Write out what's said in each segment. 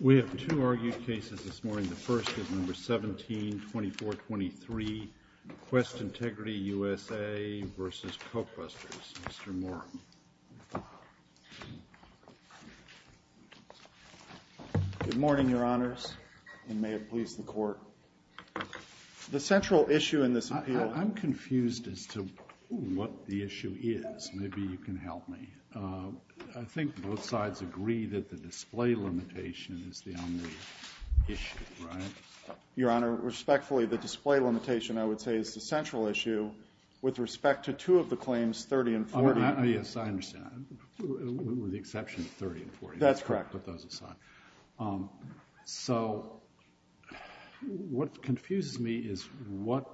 We have two argued cases this morning. The first is No. 17-2423, Quest Integrity USA v. Cokebusters. Mr. Moore. Good morning, Your Honors, and may it please the Court. The central issue, I think both sides agree that the display limitation is the only issue, right? Your Honor, respectfully, the display limitation, I would say, is the central issue with respect to two of the claims, 30 and 40. Yes, I understand, with the exception of 30 and 40. That's correct. Put those aside. So what confuses me is what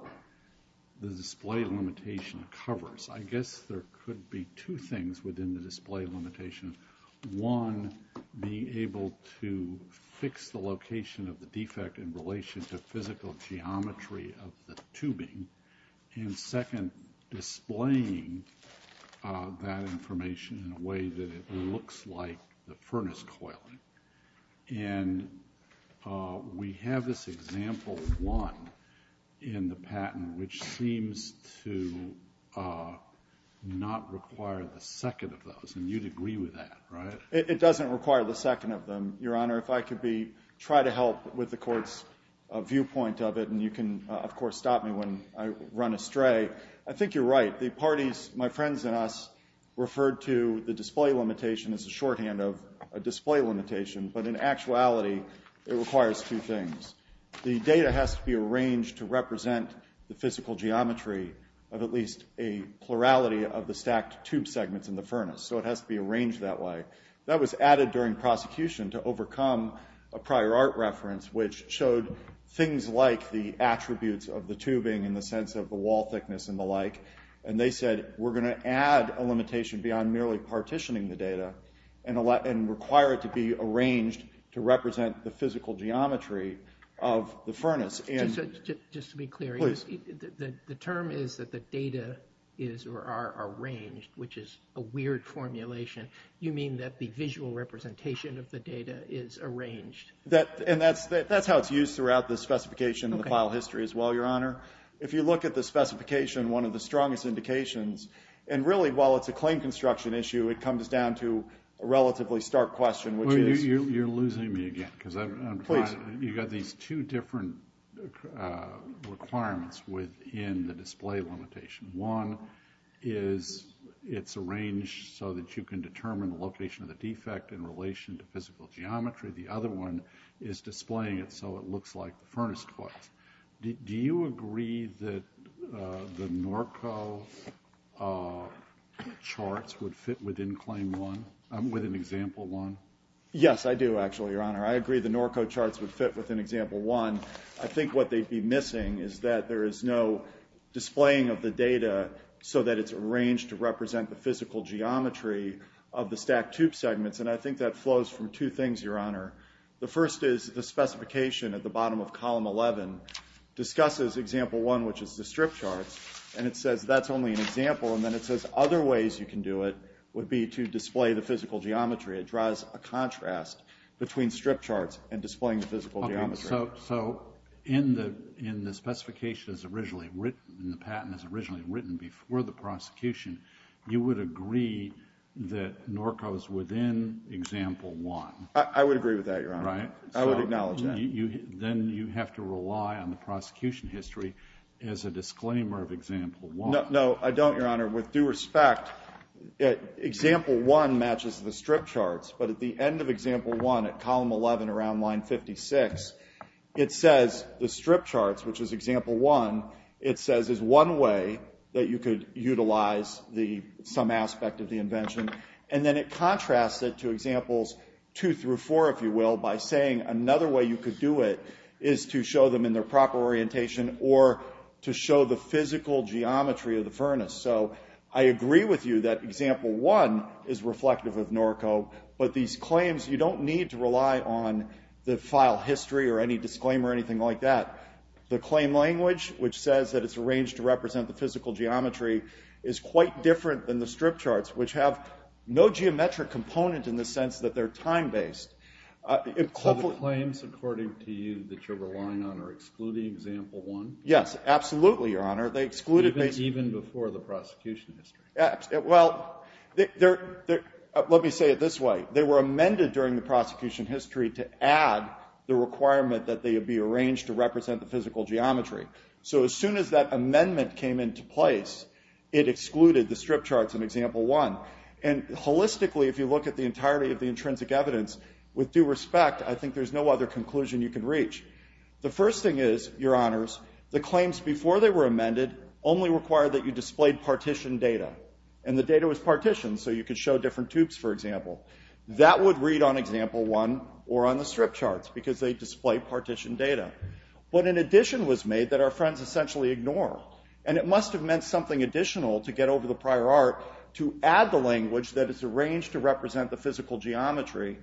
the display limitation covers. I guess there could be two things within the display limitation. One, being able to fix the location of the defect in relation to physical geometry of the tubing, and second, displaying that information in a way that it looks like the furnace coiling. And we have this example one in the patent which seems to not require the second of those, and you'd agree with that, right? It doesn't require the second of them, Your Honor. If I could be, try to help with the Court's viewpoint of it, and you can, of course, stop me when I run astray. I think you're right. The parties, my friends and us, referred to the display limitation as a shorthand of a display limitation, but in actuality, it requires two things. The data has to be arranged to represent the physical geometry of at least a plurality of the stacked tube segments in the furnace, so it has to be arranged that way. That was added during prosecution to overcome a prior art reference which showed things like the attributes of the tubing in the sense of the wall thickness and the like, and they said, we're going to add a limitation beyond merely partitioning the data and require it to be arranged to represent the physical geometry of the furnace. Just to be clear, the term is that the data is or are arranged, which is a weird formulation. You mean that the visual representation of the data is arranged? And that's how it's used throughout the specification of the file history as well, Your Honor. If you look at the specification, one of the strongest indications, and really, while it's a claim construction issue, it comes down to a relatively stark question, which is... Well, you're losing me again, because I'm... Please. You've got these two different requirements within the display limitation. One is it's arranged so that you can determine the location of the defect in relation to physical geometry. The other one is displaying it so it looks like the furnace was. Do you agree that the NORCO charts would fit within example one? Yes, I do, actually, Your Honor. I agree the NORCO charts would fit within example one. I think what they'd be missing is that there is no displaying of the data so that it's arranged to represent the physical geometry of the stacked tube segments, and I think that flows from two bottom of column 11, discusses example one, which is the strip charts, and it says that's only an example, and then it says other ways you can do it would be to display the physical geometry. It draws a contrast between strip charts and displaying the physical geometry. So in the specification as originally written, in the patent as originally written before the prosecution, you would agree that NORCO is within example one? I would agree with that, Your Honor. I would acknowledge that. Then you have to rely on the prosecution history as a disclaimer of example one. No, I don't, Your Honor. With due respect, example one matches the strip charts, but at the end of example one at column 11 around line 56, it says the strip charts, which is example one, it says is one way that you could utilize some aspect of the invention, and then it contrasts it to examples two through four, if you will, by saying another way you could do it is to show them in their proper orientation or to show the physical geometry of the furnace. So I agree with you that example one is reflective of NORCO, but these claims, you don't need to rely on the file history or any disclaimer or anything like that. The claim language, which says that it's arranged to represent the physical geometry, is quite different than the strip charts, which have no geometric component in the sense that they're time-based. So the claims, according to you, that you're relying on are excluding example one? Yes, absolutely, Your Honor. They excluded... Even before the prosecution history? Well, let me say it this way. They were amended during the prosecution history to add the requirement that they would be arranged to represent the physical geometry. So as soon as that amendment came into place, it excluded the strip charts in example one. And holistically, if you look at the entirety of the intrinsic evidence, with due respect, I think there's no other conclusion you can reach. The first thing is, Your Honors, the claims before they were amended only required that you displayed partitioned data, and the data was partitioned so you could show different tubes, for example. That would read on example one or on the strip charts because they display partitioned data. But an addition was made that our friends essentially ignore, and it must have meant something additional to get over the prior art to add the language that is arranged to represent the physical geometry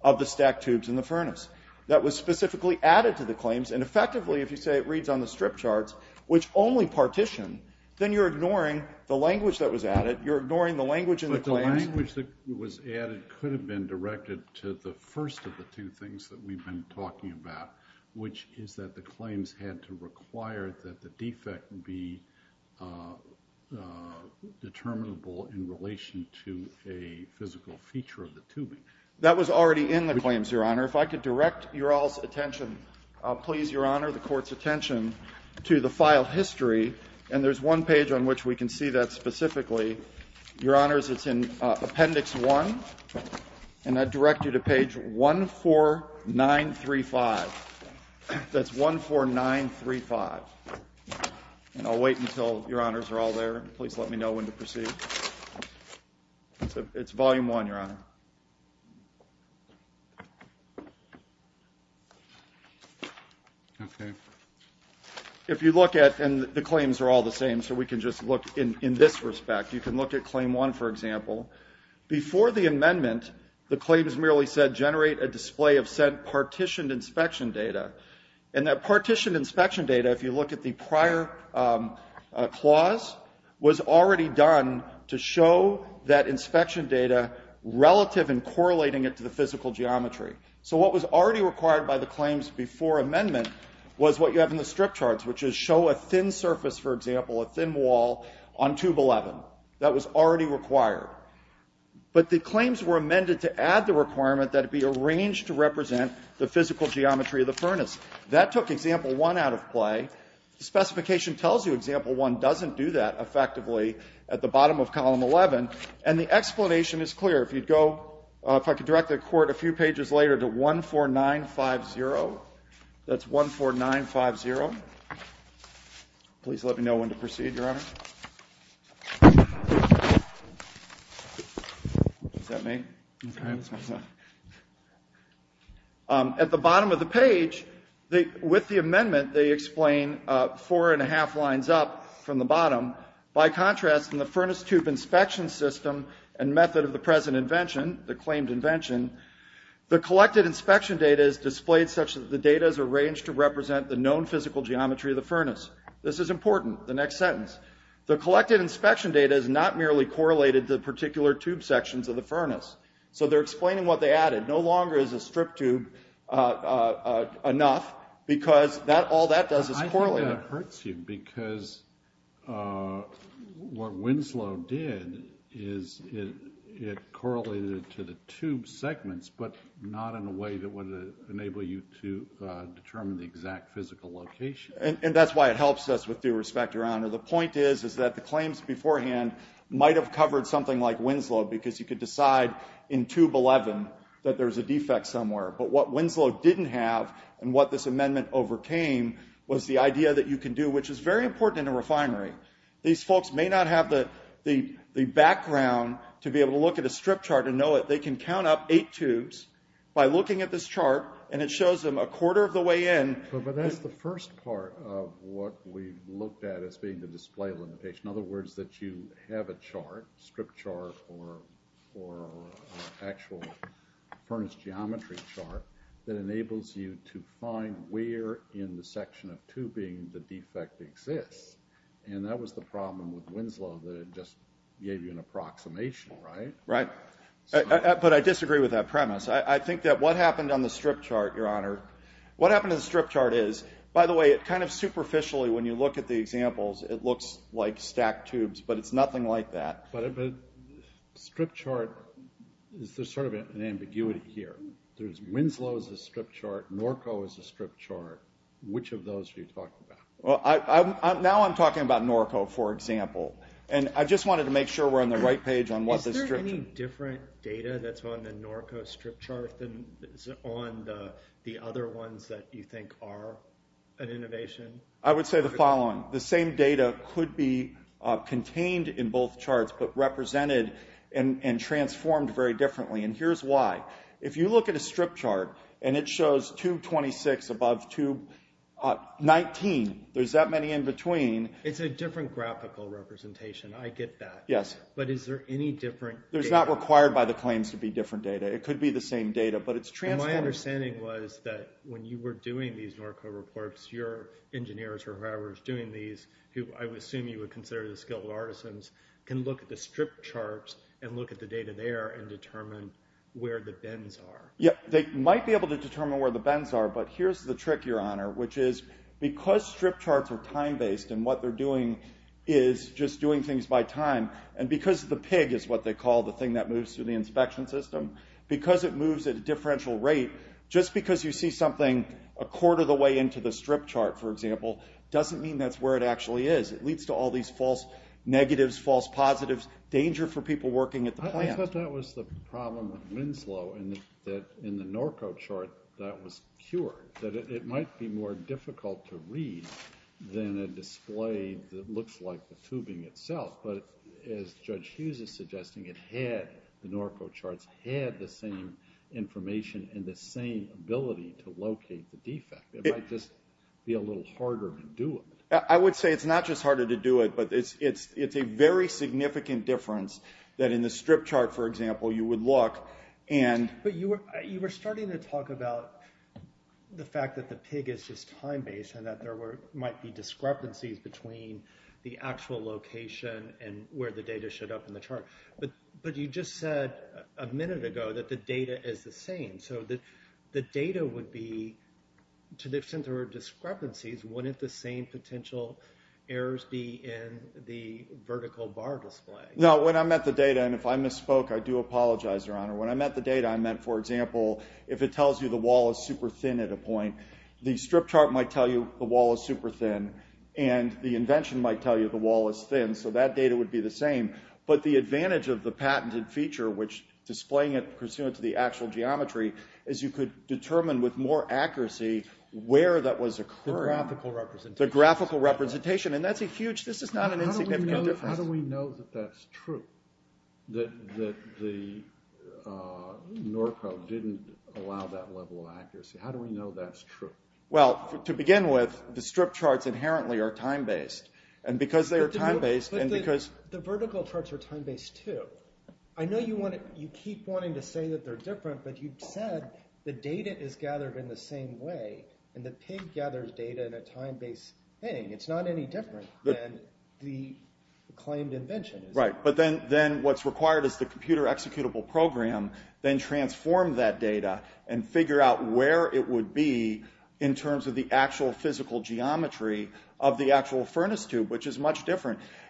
of the stacked tubes in the furnace. That was specifically added to the claims, and effectively, if you say it reads on the strip charts, which only partition, then you're ignoring the language that was added. You're ignoring the language in the claims. But the language that was added could have been directed to the first of the two things that we've been talking about, which is that the claims had to require that the defect be determinable in relation to a physical feature of the tubing. That was already in the claims, Your Honor. If I could direct your all's attention, please, Your Honor, the Court's attention to the file history. And there's one page on which we can see that specifically. Your Honors, it's in Appendix 1, and I direct you to page 14935. That's 14935. And I'll wait until Your Honors are all there. Please let me know when to proceed. It's Volume 1, Your Honor. Okay. If you look at, and the claims are all the same, so we can just look in this respect. You can look at Claim 1, for example. Before the amendment, the claims merely said, generate a display of sent partitioned inspection data. And that partitioned inspection data, if you look at the prior clause, was already done to show that inspection data relative and correlating it to the physical geometry. So what was already required by the claims before amendment was what you have in the strip charts, which is show a thin surface, for example, a thin wall on Tube 11. That was already required. But the claims were amended to add the requirement that it be arranged to represent the physical geometry of the furnace. That took Example 1 out of play. The specification tells you Example 1 doesn't do that effectively at the bottom of Column 11. And the explanation is clear. If you'd go, if I could direct the Court a few pages later to 14950. That's 14950. Please let me know when to proceed, Your Honor. Is that me? It's all right. That's my son. At the bottom of the page, with the amendment, they explain four and a half lines up from the bottom. By contrast, in the furnace tube inspection system and method of the present invention, the claimed invention, the collected inspection data is displayed such that the data is arranged to represent the known physical geometry of the furnace. This is important, the next sentence. The collected inspection data is not merely correlated to the particular tube sections of the furnace. So they're explaining what they added. No longer is a strip tube enough, because all that does is correlate. I think that hurts you, because what Winslow did is it correlated to the tube segments, but not in a way that would enable you to determine the exact physical location. And that's why it helps us with due respect, Your Honor. The point is, is that the claims beforehand might have covered something like Winslow, because you could decide in Tube 11 that there's a defect somewhere. But what Winslow didn't have, and what this amendment overcame, was the idea that you can do, which is very important in a refinery. These folks may not have the background to be able to look at a strip chart and know it. By looking at this chart, and it shows them a quarter of the way in. But that's the first part of what we looked at as being the display limitation. In other words, that you have a chart, strip chart, or actual furnace geometry chart, that enables you to find where in the section of tubing the defect exists. And that was the problem with Winslow, that it just gave you an approximation, right? Right. But I disagree with that premise. That what happened on the strip chart, Your Honor, what happened to the strip chart is, by the way, it kind of superficially, when you look at the examples, it looks like stacked tubes, but it's nothing like that. But a strip chart, there's sort of an ambiguity here. There's Winslow as a strip chart, Norco as a strip chart. Which of those are you talking about? Well, now I'm talking about Norco, for example. And I just wanted to make sure we're on the right chart on the other ones that you think are an innovation. I would say the following. The same data could be contained in both charts, but represented and transformed very differently. And here's why. If you look at a strip chart, and it shows tube 26 above tube 19, there's that many in between. It's a different graphical representation. I get that. Yes. But is there any different? There's not required by the claims to be different data. It could be the same data, but it's transformed. My understanding was that when you were doing these Norco reports, your engineers or whoever is doing these, who I would assume you would consider the skilled artisans, can look at the strip charts and look at the data there and determine where the bends are. Yeah, they might be able to determine where the bends are. But here's the trick, Your Honor, which is because strip charts are time-based and what they're doing is just doing things by time, and because the pig is what they call the thing that moves through the inspection system, because it moves at a differential rate, just because you see something a quarter of the way into the strip chart, for example, doesn't mean that's where it actually is. It leads to all these false negatives, false positives, danger for people working at the plant. I thought that was the problem with Winslow, and that in the Norco chart that was cured, that it might be more difficult to read than a display that looks like the tubing itself. But as Judge Hughes is suggesting, it had, the Norco charts had the same information and the same ability to locate the defect. It might just be a little harder to do it. I would say it's not just harder to do it, but it's a very significant difference that in the strip chart, for example, you would look and... But you were starting to talk about the fact that the pig is just time-based and that there where the data showed up in the chart. But you just said a minute ago that the data is the same. So the data would be, to the extent there were discrepancies, wouldn't the same potential errors be in the vertical bar display? No, when I met the data, and if I misspoke, I do apologize, Your Honor. When I met the data, I meant, for example, if it tells you the wall is super thin at a point, the strip chart might tell you the wall is super thin, and the invention might tell you the wall is thin. So that data would be the same. But the advantage of the patented feature, which displaying it pursuant to the actual geometry, is you could determine with more accuracy where that was occurring. The graphical representation. The graphical representation. And that's a huge... This is not an insignificant difference. How do we know that that's true? That the NORCO didn't allow that level of accuracy? How do we know that's true? Well, to begin with, the strip charts inherently are time-based. And because they are time-based, the vertical charts are time-based, too. I know you keep wanting to say that they're different, but you said the data is gathered in the same way, and the pig gathers data in a time-based thing. It's not any different than the claimed invention. Right. But then what's required is the computer-executable program then transform that data and figure out where it would be in terms of the actual physical geometry of the actual tube.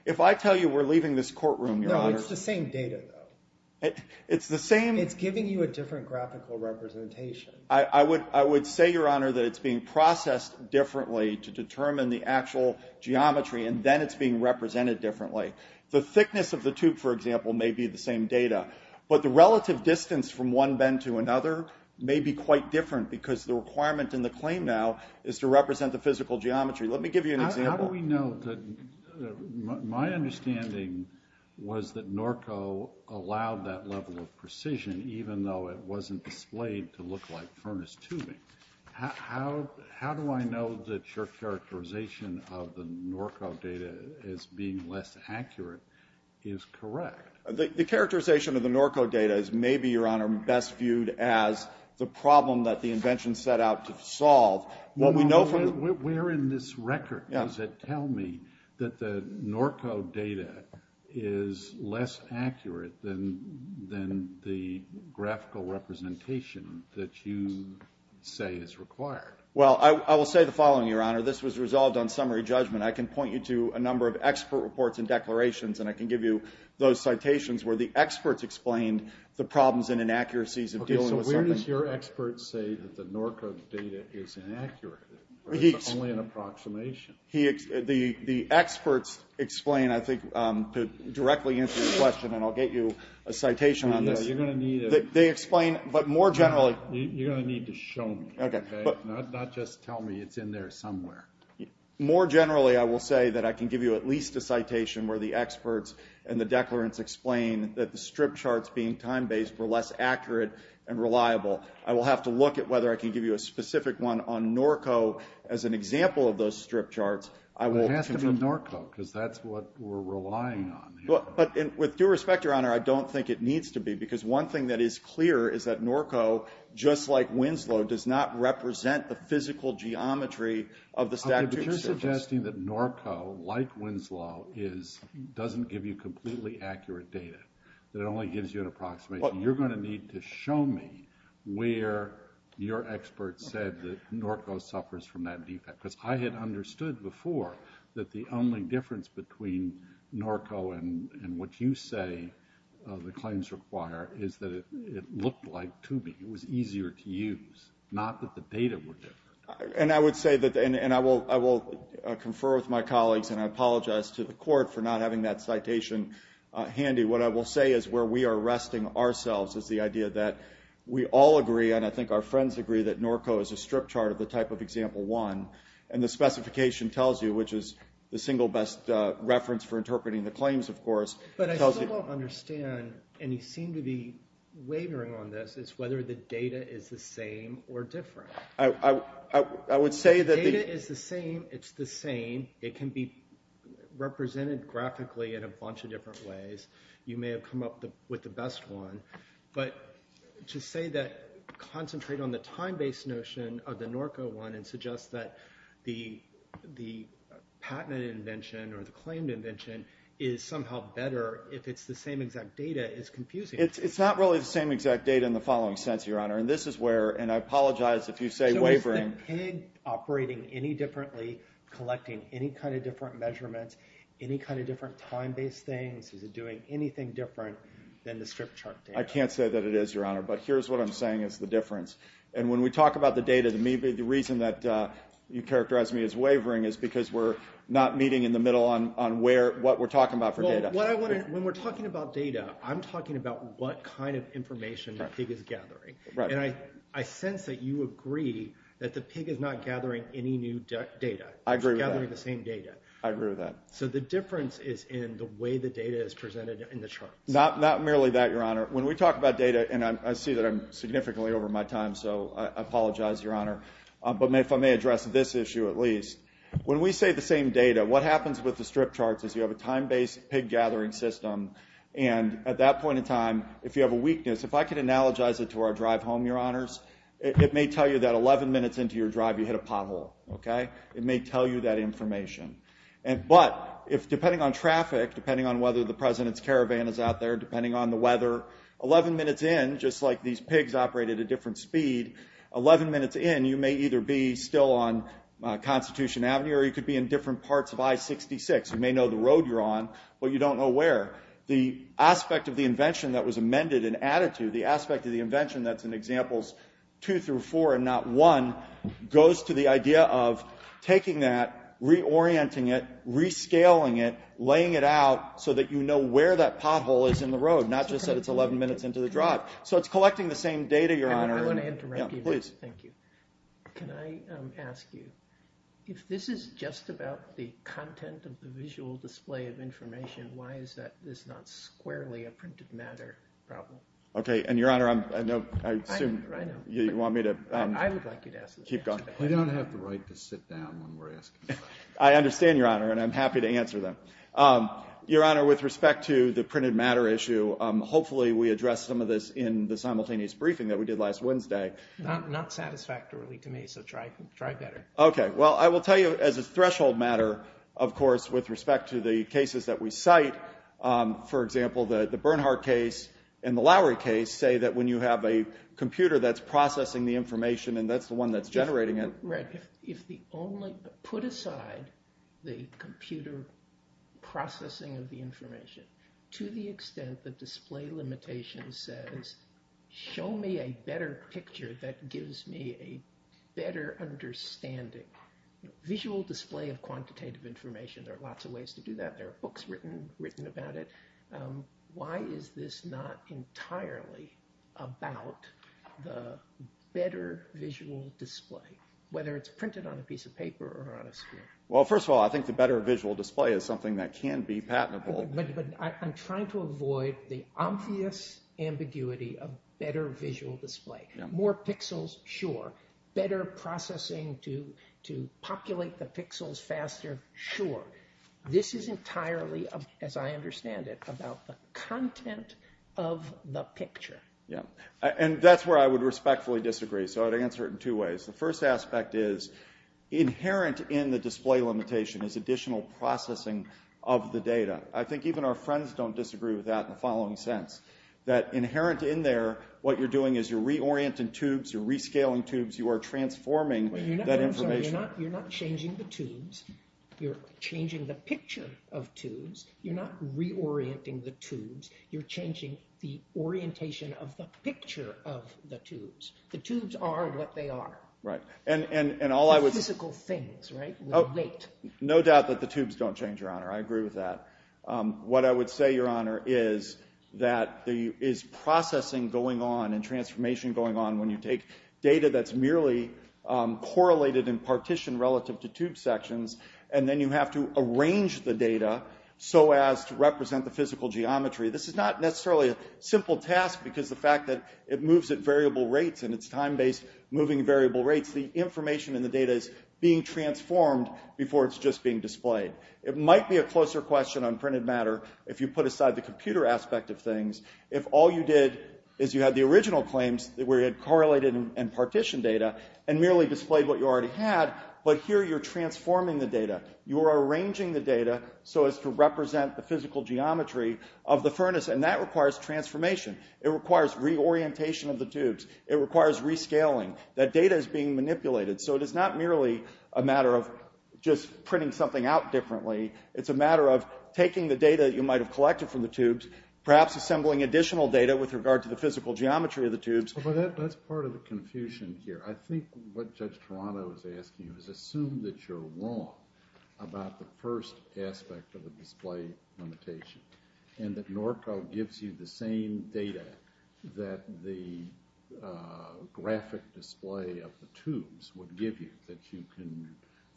If I tell you we're leaving this courtroom, Your Honor... No, it's the same data, though. It's the same... It's giving you a different graphical representation. I would say, Your Honor, that it's being processed differently to determine the actual geometry, and then it's being represented differently. The thickness of the tube, for example, may be the same data. But the relative distance from one bend to another may be quite different because the requirement in the claim now is to represent the physical geometry. Let me give you an example. We know that... My understanding was that Norco allowed that level of precision even though it wasn't displayed to look like furnace tubing. How do I know that your characterization of the Norco data as being less accurate is correct? The characterization of the Norco data is maybe, Your Honor, best viewed as the problem that the invention set out to solve. What we know from... Where in this record does it tell me that the Norco data is less accurate than the graphical representation that you say is required? Well, I will say the following, Your Honor. This was resolved on summary judgment. I can point you to a number of expert reports and declarations, and I can give you those citations where the experts explained the problems and inaccuracies of dealing with something... It's only an approximation. The experts explain, I think, to directly answer your question, and I'll get you a citation on this. Yeah, you're going to need a... They explain, but more generally... You're going to need to show me, okay? Not just tell me it's in there somewhere. More generally, I will say that I can give you at least a citation where the experts and the declarants explain that the strip charts being time-based were less accurate and reliable. I will have to look at whether I can give you a specific one on Norco as an example of those strip charts. I will... It has to be Norco, because that's what we're relying on here. But with due respect, Your Honor, I don't think it needs to be, because one thing that is clear is that Norco, just like Winslow, does not represent the physical geometry of the statutes... If you're suggesting that Norco, like Winslow, doesn't give you completely accurate data, that it only gives you an approximation, you're going to need to show me where your expert said that Norco suffers from that defect, because I had understood before that the only difference between Norco and what you say the claims require is that it looked like Tubi. It was easier to use, not that the data were different. And I would say that... And I will confer with my colleagues, and I apologize to the Court for not having that citation handy. What I will say is where we are resting ourselves is the idea that we all agree, and I think our friends agree, that Norco is a strip chart of the type of example one, and the specification tells you, which is the single best reference for interpreting the claims, of course... But I still don't understand, and you seem to be wavering on this, is whether the data is the same or different. I would say that... The data is the same. It's the same. It can be represented graphically in a bunch of different ways. You may have come up with the best one, but to say that... Concentrate on the time-based notion of the Norco one and suggest that the patented invention or the claimed invention is somehow better if it's the same exact data is confusing. It's not really the same exact data in the following sense, Your Honor, and this is where... And I apologize if you say wavering. So is the PIG operating any differently, collecting any kind of different measurements, any kind of different time-based things? Is it doing anything different than the strip chart data? I can't say that it is, Your Honor, but here's what I'm saying is the difference. And when we talk about the data, the reason that you characterized me as wavering is because we're not meeting in the middle on what we're talking about for data. Well, when we're talking about data, I'm talking about what kind of information the PIG is gathering, and I sense that you agree that the PIG is not gathering any new data. I agree with that. It's gathering the same data. I agree with that. So the difference is in the way the data is presented in the charts. Not merely that, Your Honor. When we talk about data, and I see that I'm significantly over my time, so I apologize, Your Honor, but if I may address this issue at least, when we say the same data, what happens with the strip charts is you have a time-based PIG gathering system, and at that point in time, if you have a weakness, if I could analogize it to our drive home, Your Honors, it may tell you that 11 minutes into your drive, you hit a pothole, okay? It may tell you that information. But if, depending on traffic, depending on whether the President's caravan is out there, depending on the weather, 11 minutes in, just like these PIGs operate at a different speed, 11 minutes in, you may either be still on Constitution Avenue, or you could be in different parts of I-66. You may know the road you're on, but you don't know where. The aspect of the invention that was amended and added to, the aspect of the invention that's in examples two through four, and not one, goes to the idea of taking that, reorienting it, rescaling it, laying it out, so that you know where that pothole is in the road, not just that it's 11 minutes into the drive. So it's collecting the same data, Your Honor. I want to interrupt you. Please. Thank you. Can I ask you, if this is just about the content of the visual display of information, why is that this not squarely a printed matter problem? Okay. And, Your Honor, I assume you want me to keep going. I don't have the right to sit down when we're asking questions. I understand, Your Honor, and I'm happy to answer them. Your Honor, with respect to the printed matter issue, hopefully we addressed some of this in the simultaneous briefing that we did last Wednesday. Not satisfactorily to me, so try better. Okay. Well, I will tell you, as a threshold matter, of course, with respect to the cases that we cite, for example, the Bernhardt case and the Lowry case say that when you have a computer that's processing the information, and that's the one that's generating it. Right. Put aside the computer processing of the information. To the extent that display limitation says, show me a better picture that gives me a better understanding. Visual display of quantitative information, there are lots of ways to do that. There are books written about it. Why is this not entirely about the better visual display, whether it's printed on a piece of paper or on a screen? Well, first of all, I think the better visual display is something that can be patentable. But I'm trying to avoid the obvious ambiguity of better visual display. More pixels, sure. Better processing to populate the pixels faster, sure. This is entirely, as I understand it, about the content of the picture. Yeah. And that's where I would respectfully disagree. So I'd answer it in two ways. The first aspect is inherent in the display limitation is additional processing of the data. I think even our friends don't disagree with that in the following sense, that inherent in there, what you're doing is you're reorienting tubes, you're rescaling tubes, you are transforming that information. You're not changing the tubes. You're changing the picture of tubes. You're not reorienting the tubes. You're changing the orientation of the picture of the tubes. The tubes are what they are. Right. And all I would— Physical things, right? No doubt that the tubes don't change, Your Honor. I agree with that. What I would say, Your Honor, is that there is processing going on and transformation going on when you take data that's merely correlated in partition relative to tube sections, and then you have to arrange the data so as to represent the physical geometry. This is not necessarily a simple task because of the fact that it moves at variable rates and it's time-based moving at variable rates. The information in the data is being transformed before it's just being displayed. It might be a closer question on printed matter if you put aside the computer aspect of things. If all you did is you had the original claims where you had correlated and partitioned data and merely displayed what you already had, but here you're transforming the data. You're arranging the data so as to represent the physical geometry of the furnace, and that requires transformation. It requires reorientation of the tubes. It requires rescaling. That data is being manipulated. So it is not merely a matter of just printing something out differently. It's a matter of taking the data that you might have collected from the tubes, perhaps assembling additional data with regard to the physical geometry of the tubes. But that's part of the confusion here. I think what Judge Toronto is asking is assume that you're wrong about the first aspect of the display limitation, and that NORCO gives you the same data that the graphic display of the tubes would give you, that you can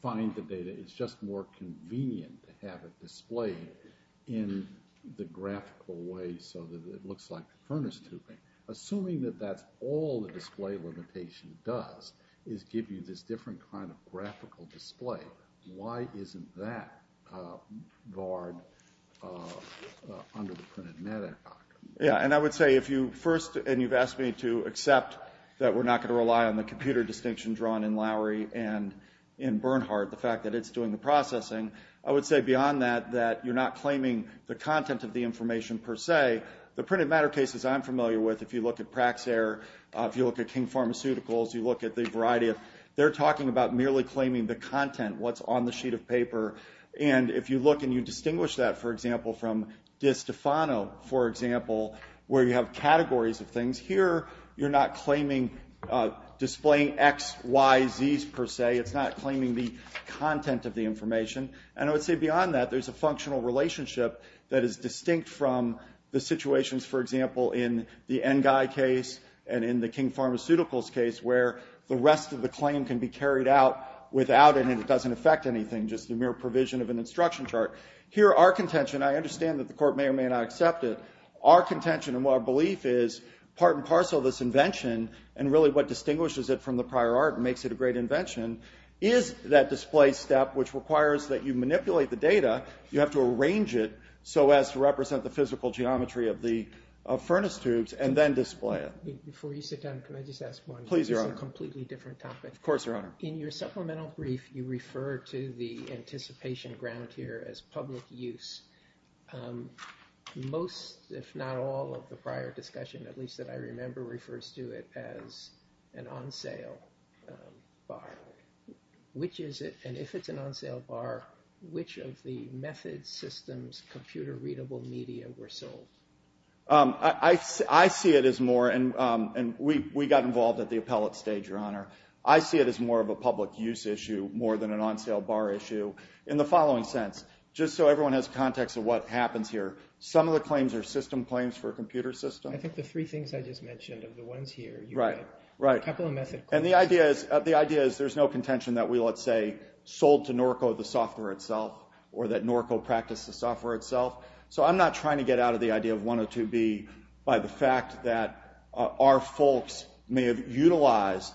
find the data. It's just more convenient to have it displayed in the graphical way so that it looks like the furnace tubing. Assuming that that's all the display limitation does is give you this different kind of graphical display, why isn't that barred under the printed matter doctrine? Yeah, and I would say if you first, and you've asked me to accept that we're not going to the processing, I would say beyond that, that you're not claiming the content of the information per se. The printed matter cases I'm familiar with, if you look at Praxair, if you look at King Pharmaceuticals, you look at the variety of, they're talking about merely claiming the content, what's on the sheet of paper. And if you look and you distinguish that, for example, from DiStefano, for example, where you have categories of things. Here, you're not claiming, displaying X, Y, Zs per se. It's not claiming the content of the information. And I would say beyond that, there's a functional relationship that is distinct from the situations, for example, in the Nguy case and in the King Pharmaceuticals case where the rest of the claim can be carried out without, and it doesn't affect anything, just the mere provision of an instruction chart. Here, our contention, I understand that the court may or may not accept it. Our contention and what our belief is, part and parcel of this invention, and really what is that display step, which requires that you manipulate the data. You have to arrange it so as to represent the physical geometry of the furnace tubes and then display it. Before you sit down, can I just ask one? Please, Your Honor. It's a completely different topic. Of course, Your Honor. In your supplemental brief, you refer to the anticipation ground here as public use. Most, if not all, of the prior discussion, at least that I remember, refers to it as an on-sale bar. Which is it, and if it's an on-sale bar, which of the methods, systems, computer-readable media were sold? I see it as more, and we got involved at the appellate stage, Your Honor. I see it as more of a public use issue, more than an on-sale bar issue, in the following sense. Just so everyone has context of what happens here, some of the claims are system claims for a computer system. I think the three things I just mentioned are the ones here. Right, right. And the idea is there's no contention that we, let's say, sold to Norco the software itself, or that Norco practiced the software itself. So I'm not trying to get out of the idea of 102B by the fact that our folks may have utilized,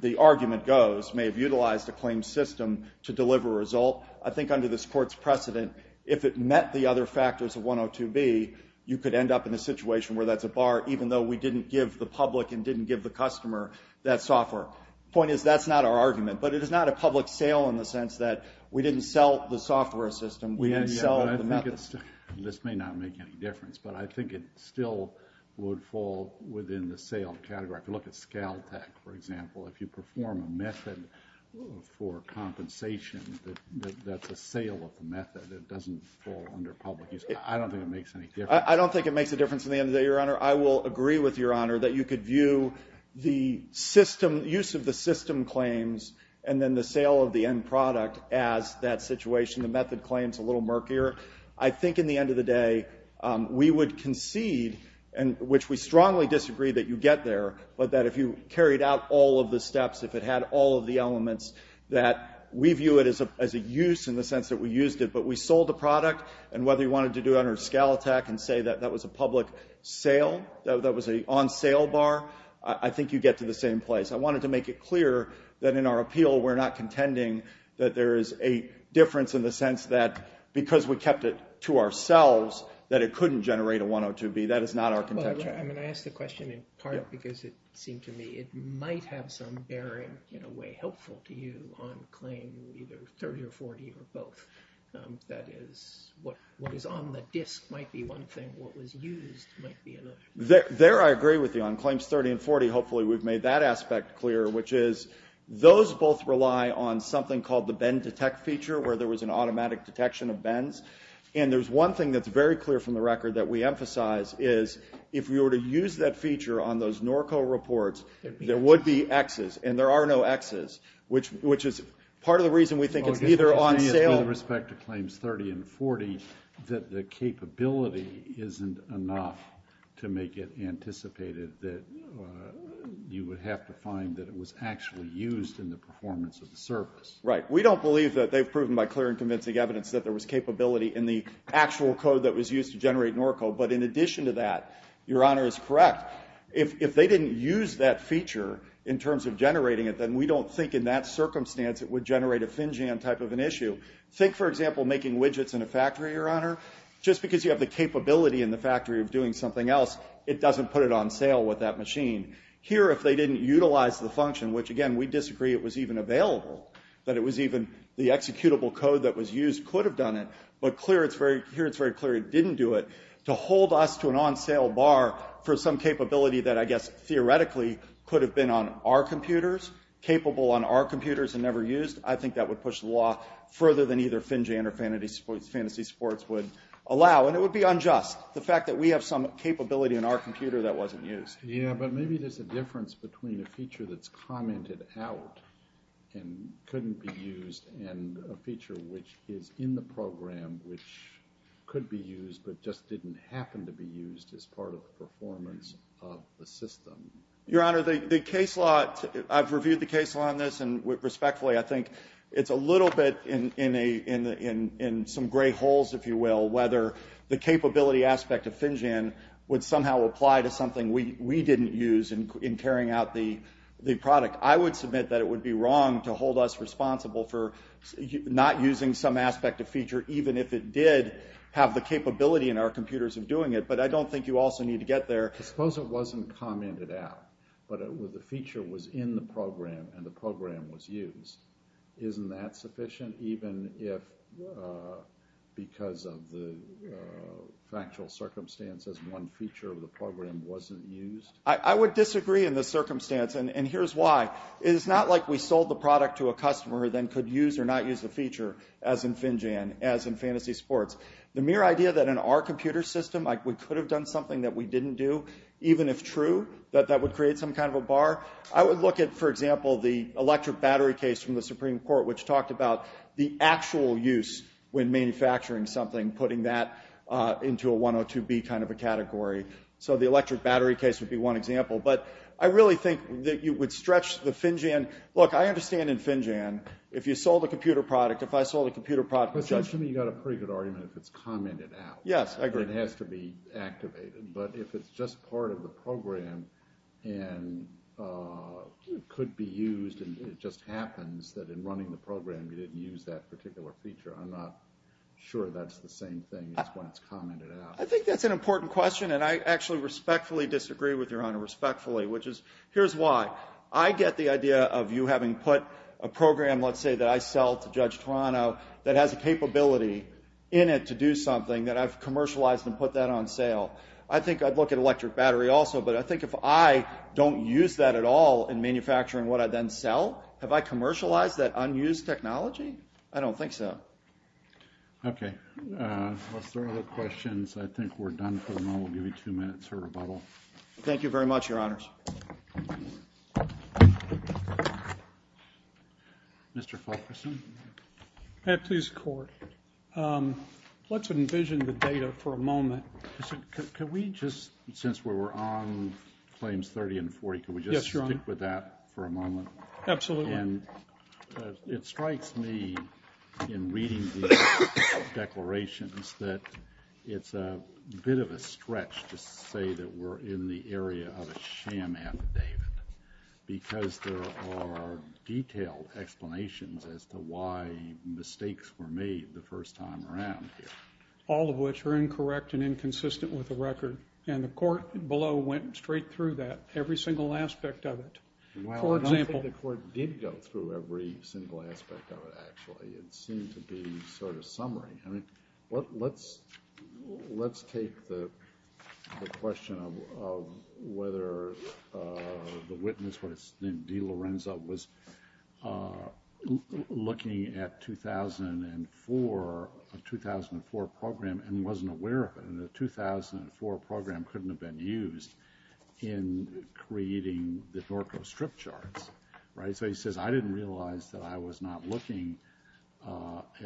the argument goes, may have utilized a claim system to deliver a result. I think under this Court's precedent, if it met the other factors of 102B, you could end up in a situation where that's a bar, even though we didn't give the public and didn't give the customer that software. Point is, that's not our argument. But it is not a public sale in the sense that we didn't sell the software system, we didn't sell the method. This may not make any difference, but I think it still would fall within the sale category. If you look at ScalTech, for example, if you perform a method for compensation, that's a sale of the method. It doesn't fall under public use. I don't think it makes any difference. I don't think it makes a difference in the end of the day, Your Honor. I will agree with Your Honor that you could view the use of the system claims and then the sale of the end product as that situation. The method claims a little murkier. I think in the end of the day, we would concede, which we strongly disagree that you get there, but that if you carried out all of the steps, if it had all of the elements, that we view it as a use in the sense that we used it. But we sold the product, and whether you wanted to do it under ScalTech and say that that was a public sale, that was an on-sale bar, I think you get to the same place. I wanted to make it clear that in our appeal, we're not contending that there is a difference in the sense that because we kept it to ourselves that it couldn't generate a 102B. That is not our contention. I asked the question in part because it seemed to me it might have some bearing in a way helpful to you on claim either 30 or 40 or both. That is, what is on the disk might be one thing. What was used might be another. There, I agree with you on claims 30 and 40. Hopefully, we've made that aspect clear, which is those both rely on something called the bend detect feature, where there was an automatic detection of bends. And there's one thing that's very clear from the record that we emphasize is if we were to use that feature on those NORCO reports, there would be Xs. And there are no Xs, which is part of the reason we think it's either on sale. With respect to claims 30 and 40, that the capability isn't enough to make it anticipated that you would have to find that it was actually used in the performance of the service. Right. We don't believe that they've proven by clear and convincing evidence that there was capability in the actual code that was used to generate NORCO. But in addition to that, Your Honor is correct. If they didn't use that feature in terms of generating it, then we don't think in that circumstance it would generate a FinJAM type of an issue. Think, for example, making widgets in a factory, Your Honor. Just because you have the capability in the factory of doing something else, it doesn't put it on sale with that machine. Here, if they didn't utilize the function, which again, we disagree it was even available, that it was even the executable code that was used could have done it. But here it's very clear it didn't do it. To hold us to an on-sale bar for some capability that I guess theoretically could have been on our computers, capable on our computers and never used, I think that would push the law further than either FinJAM or Fantasy Sports would allow. And it would be unjust, the fact that we have some capability in our computer that wasn't used. Yeah, but maybe there's a difference between a feature that's commented out and couldn't be used and a feature which is in the program which could be used but just didn't happen to be used as part of the performance of the system. Your Honor, the case law, I've reviewed the case law on this and respectfully, I think it's a little bit in some gray holes, if you will, whether the capability aspect of FinJAM would somehow apply to something we didn't use in carrying out the product. I would submit that it would be wrong to hold us responsible for not using some aspect of feature even if it did have the capability in our computers of doing it. But I don't think you also need to get there. Suppose it wasn't commented out but the feature was in the program and the program was used. Isn't that sufficient even if because of the factual circumstances, one feature of the program wasn't used? I would disagree in this circumstance and here's why. It's not like we sold the product to a customer then could use or not use the feature as in FinJAM, as in Fantasy Sports. The mere idea that in our computer system, we could have done something that we didn't do, even if true, that that would create some kind of a bar. I would look at, for example, the electric battery case from the Supreme Court, which talked about the actual use when manufacturing something, putting that into a 102B kind of a category. So the electric battery case would be one example. But I really think that you would stretch the FinJAM. Look, I understand in FinJAM, if you sold a computer product, if I sold a computer product... But shouldn't you got a pretty good argument if it's commented out? Yes, I agree. It has to be activated. But if it's just part of the program and could be used and it just happens that in running the program, you didn't use that particular feature. I'm not sure that's the same thing as when it's commented out. I think that's an important question and I actually respectfully disagree with Your Honor, respectfully, which is, here's why. I get the idea of you having put a program, let's say that I sell to Judge Toronto, that has a capability in it to do something, that I've commercialized and put that on sale. I think I'd look at electric battery also. But I think if I don't use that at all in manufacturing what I then sell, have I commercialized that unused technology? I don't think so. Okay, are there other questions? I think we're done for the moment. We'll give you two minutes for rebuttal. Thank you very much, Your Honors. Mr. Fulkerson? May I please, Court? Let's envision the data for a moment. Can we just, since we were on claims 30 and 40, can we just stick with that for a moment? Absolutely. And it strikes me in reading the declarations that it's a bit of a stretch to say that we're in the area of a sham affidavit. Because there are detailed explanations as to why mistakes were made the first time around here. All of which are incorrect and inconsistent with the record. And the court below went straight through that, every single aspect of it. Well, I don't think the court did go through every single aspect of it, actually. It seemed to be sort of summary. Let's take the question of whether the witness, what is his name, Dee Lorenzo, was looking at a 2004 program and wasn't aware of it. And the 2004 program couldn't have been used in creating the Dorco strip charts, right? So he says, I didn't realize that I was not looking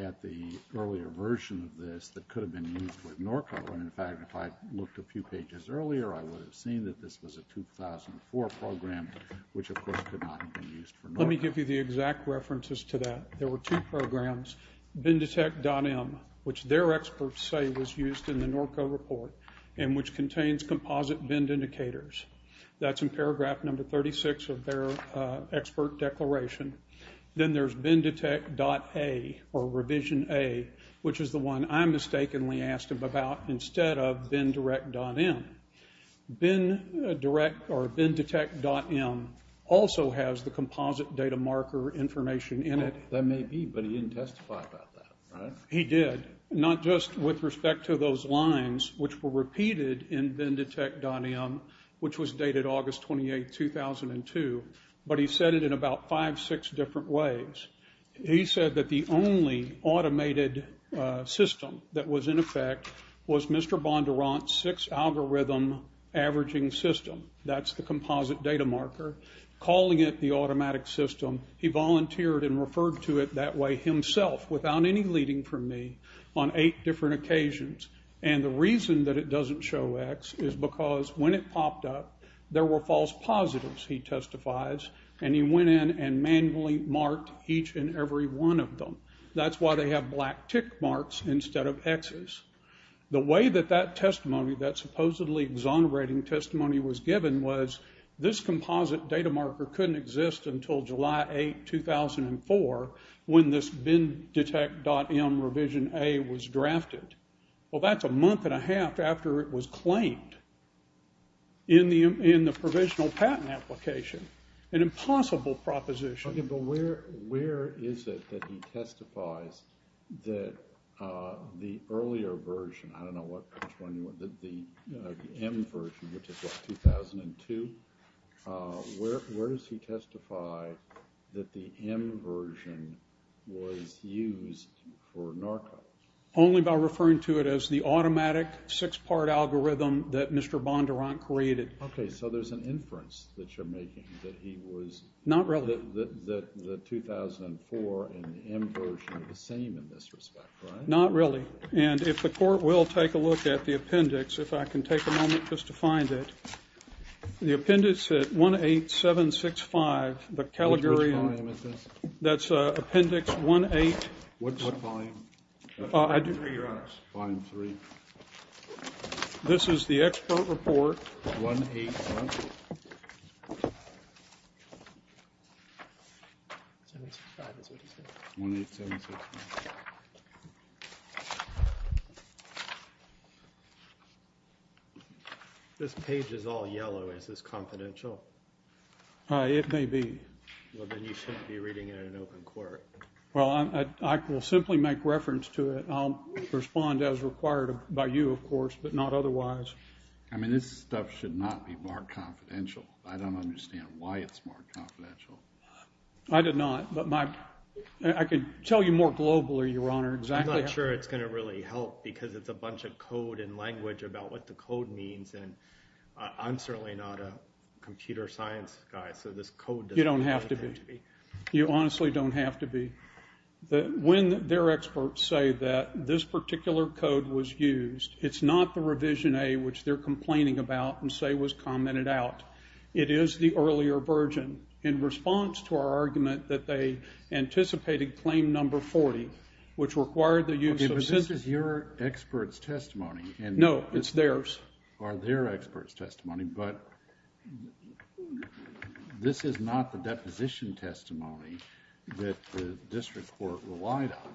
at the earlier version of this that could have been used with Dorco. And in fact, if I looked a few pages earlier, I would have seen that this was a 2004 program, which, of course, could not have been used for Dorco. Let me give you the exact references to that. There were two programs. Bendetect.M, which their experts say was used in the Dorco report, and which contains composite bend indicators. That's in paragraph number 36 of their expert declaration. Then there's Bendetect.A, or Revision A, which is the one I mistakenly asked him about instead of Bendetect.M. Bendetect.M also has the composite data marker information in it. That may be, but he didn't testify about that, right? He did, not just with respect to those lines, which were repeated in Bendetect.M, which was dated August 28, 2002, but he said it in about five, six different ways. He said that the only automated system that was in effect was Mr. Bondurant's six-algorithm averaging system. That's the composite data marker. Calling it the automatic system, he volunteered and referred to it that way himself without any leading from me on eight different occasions. The reason that it doesn't show X is because when it popped up, there were false positives, he testifies, and he went in and manually marked each and every one of them. That's why they have black tick marks instead of Xs. The way that that testimony, that supposedly exonerating testimony was given, was this composite data marker couldn't exist until July 8, 2004, when this Bendetect.M Revision A was drafted. Well, that's a month and a half after it was claimed in the provisional patent application, an impossible proposition. Okay, but where is it that he testifies that the earlier version, I don't know what, the M version, which is like 2002, where does he testify that the M version was used for Narco? Only by referring to it as the automatic six-part algorithm that Mr. Bondurant created. Okay, so there's an inference that you're making that he was... Not really. ...that the 2004 and the M version are the same in this respect, right? Not really. And if the court will take a look at the appendix, if I can take a moment just to find it, the appendix at 18765, the Caligari... Which volume is this? That's appendix 18... What volume? I do... ...3, Your Honor. Volume 3. This is the expert report. 18765. This page is all yellow. Is this confidential? It may be. Well, then you shouldn't be reading it in open court. Well, I will simply make reference to it. I'll respond as required by you, of course, but not otherwise. I mean, this stuff should not be marked confidential. I don't understand why it's marked confidential. I did not, but my... I could tell you more globally, Your Honor. I'm not sure it's going to really help because it's a bunch of code and language about what the code means, and I'm certainly not a computer science guy, so this code doesn't... You don't have to be. You honestly don't have to be. When their experts say that this particular code was used, it's not the revision A, which they're complaining about and say was commented out. It is the earlier version in response to our argument that they anticipated claim number 40, which required the use of... Okay, but this is your expert's testimony. No, it's theirs. Or their expert's testimony, but this is not the deposition testimony that the district court relied on.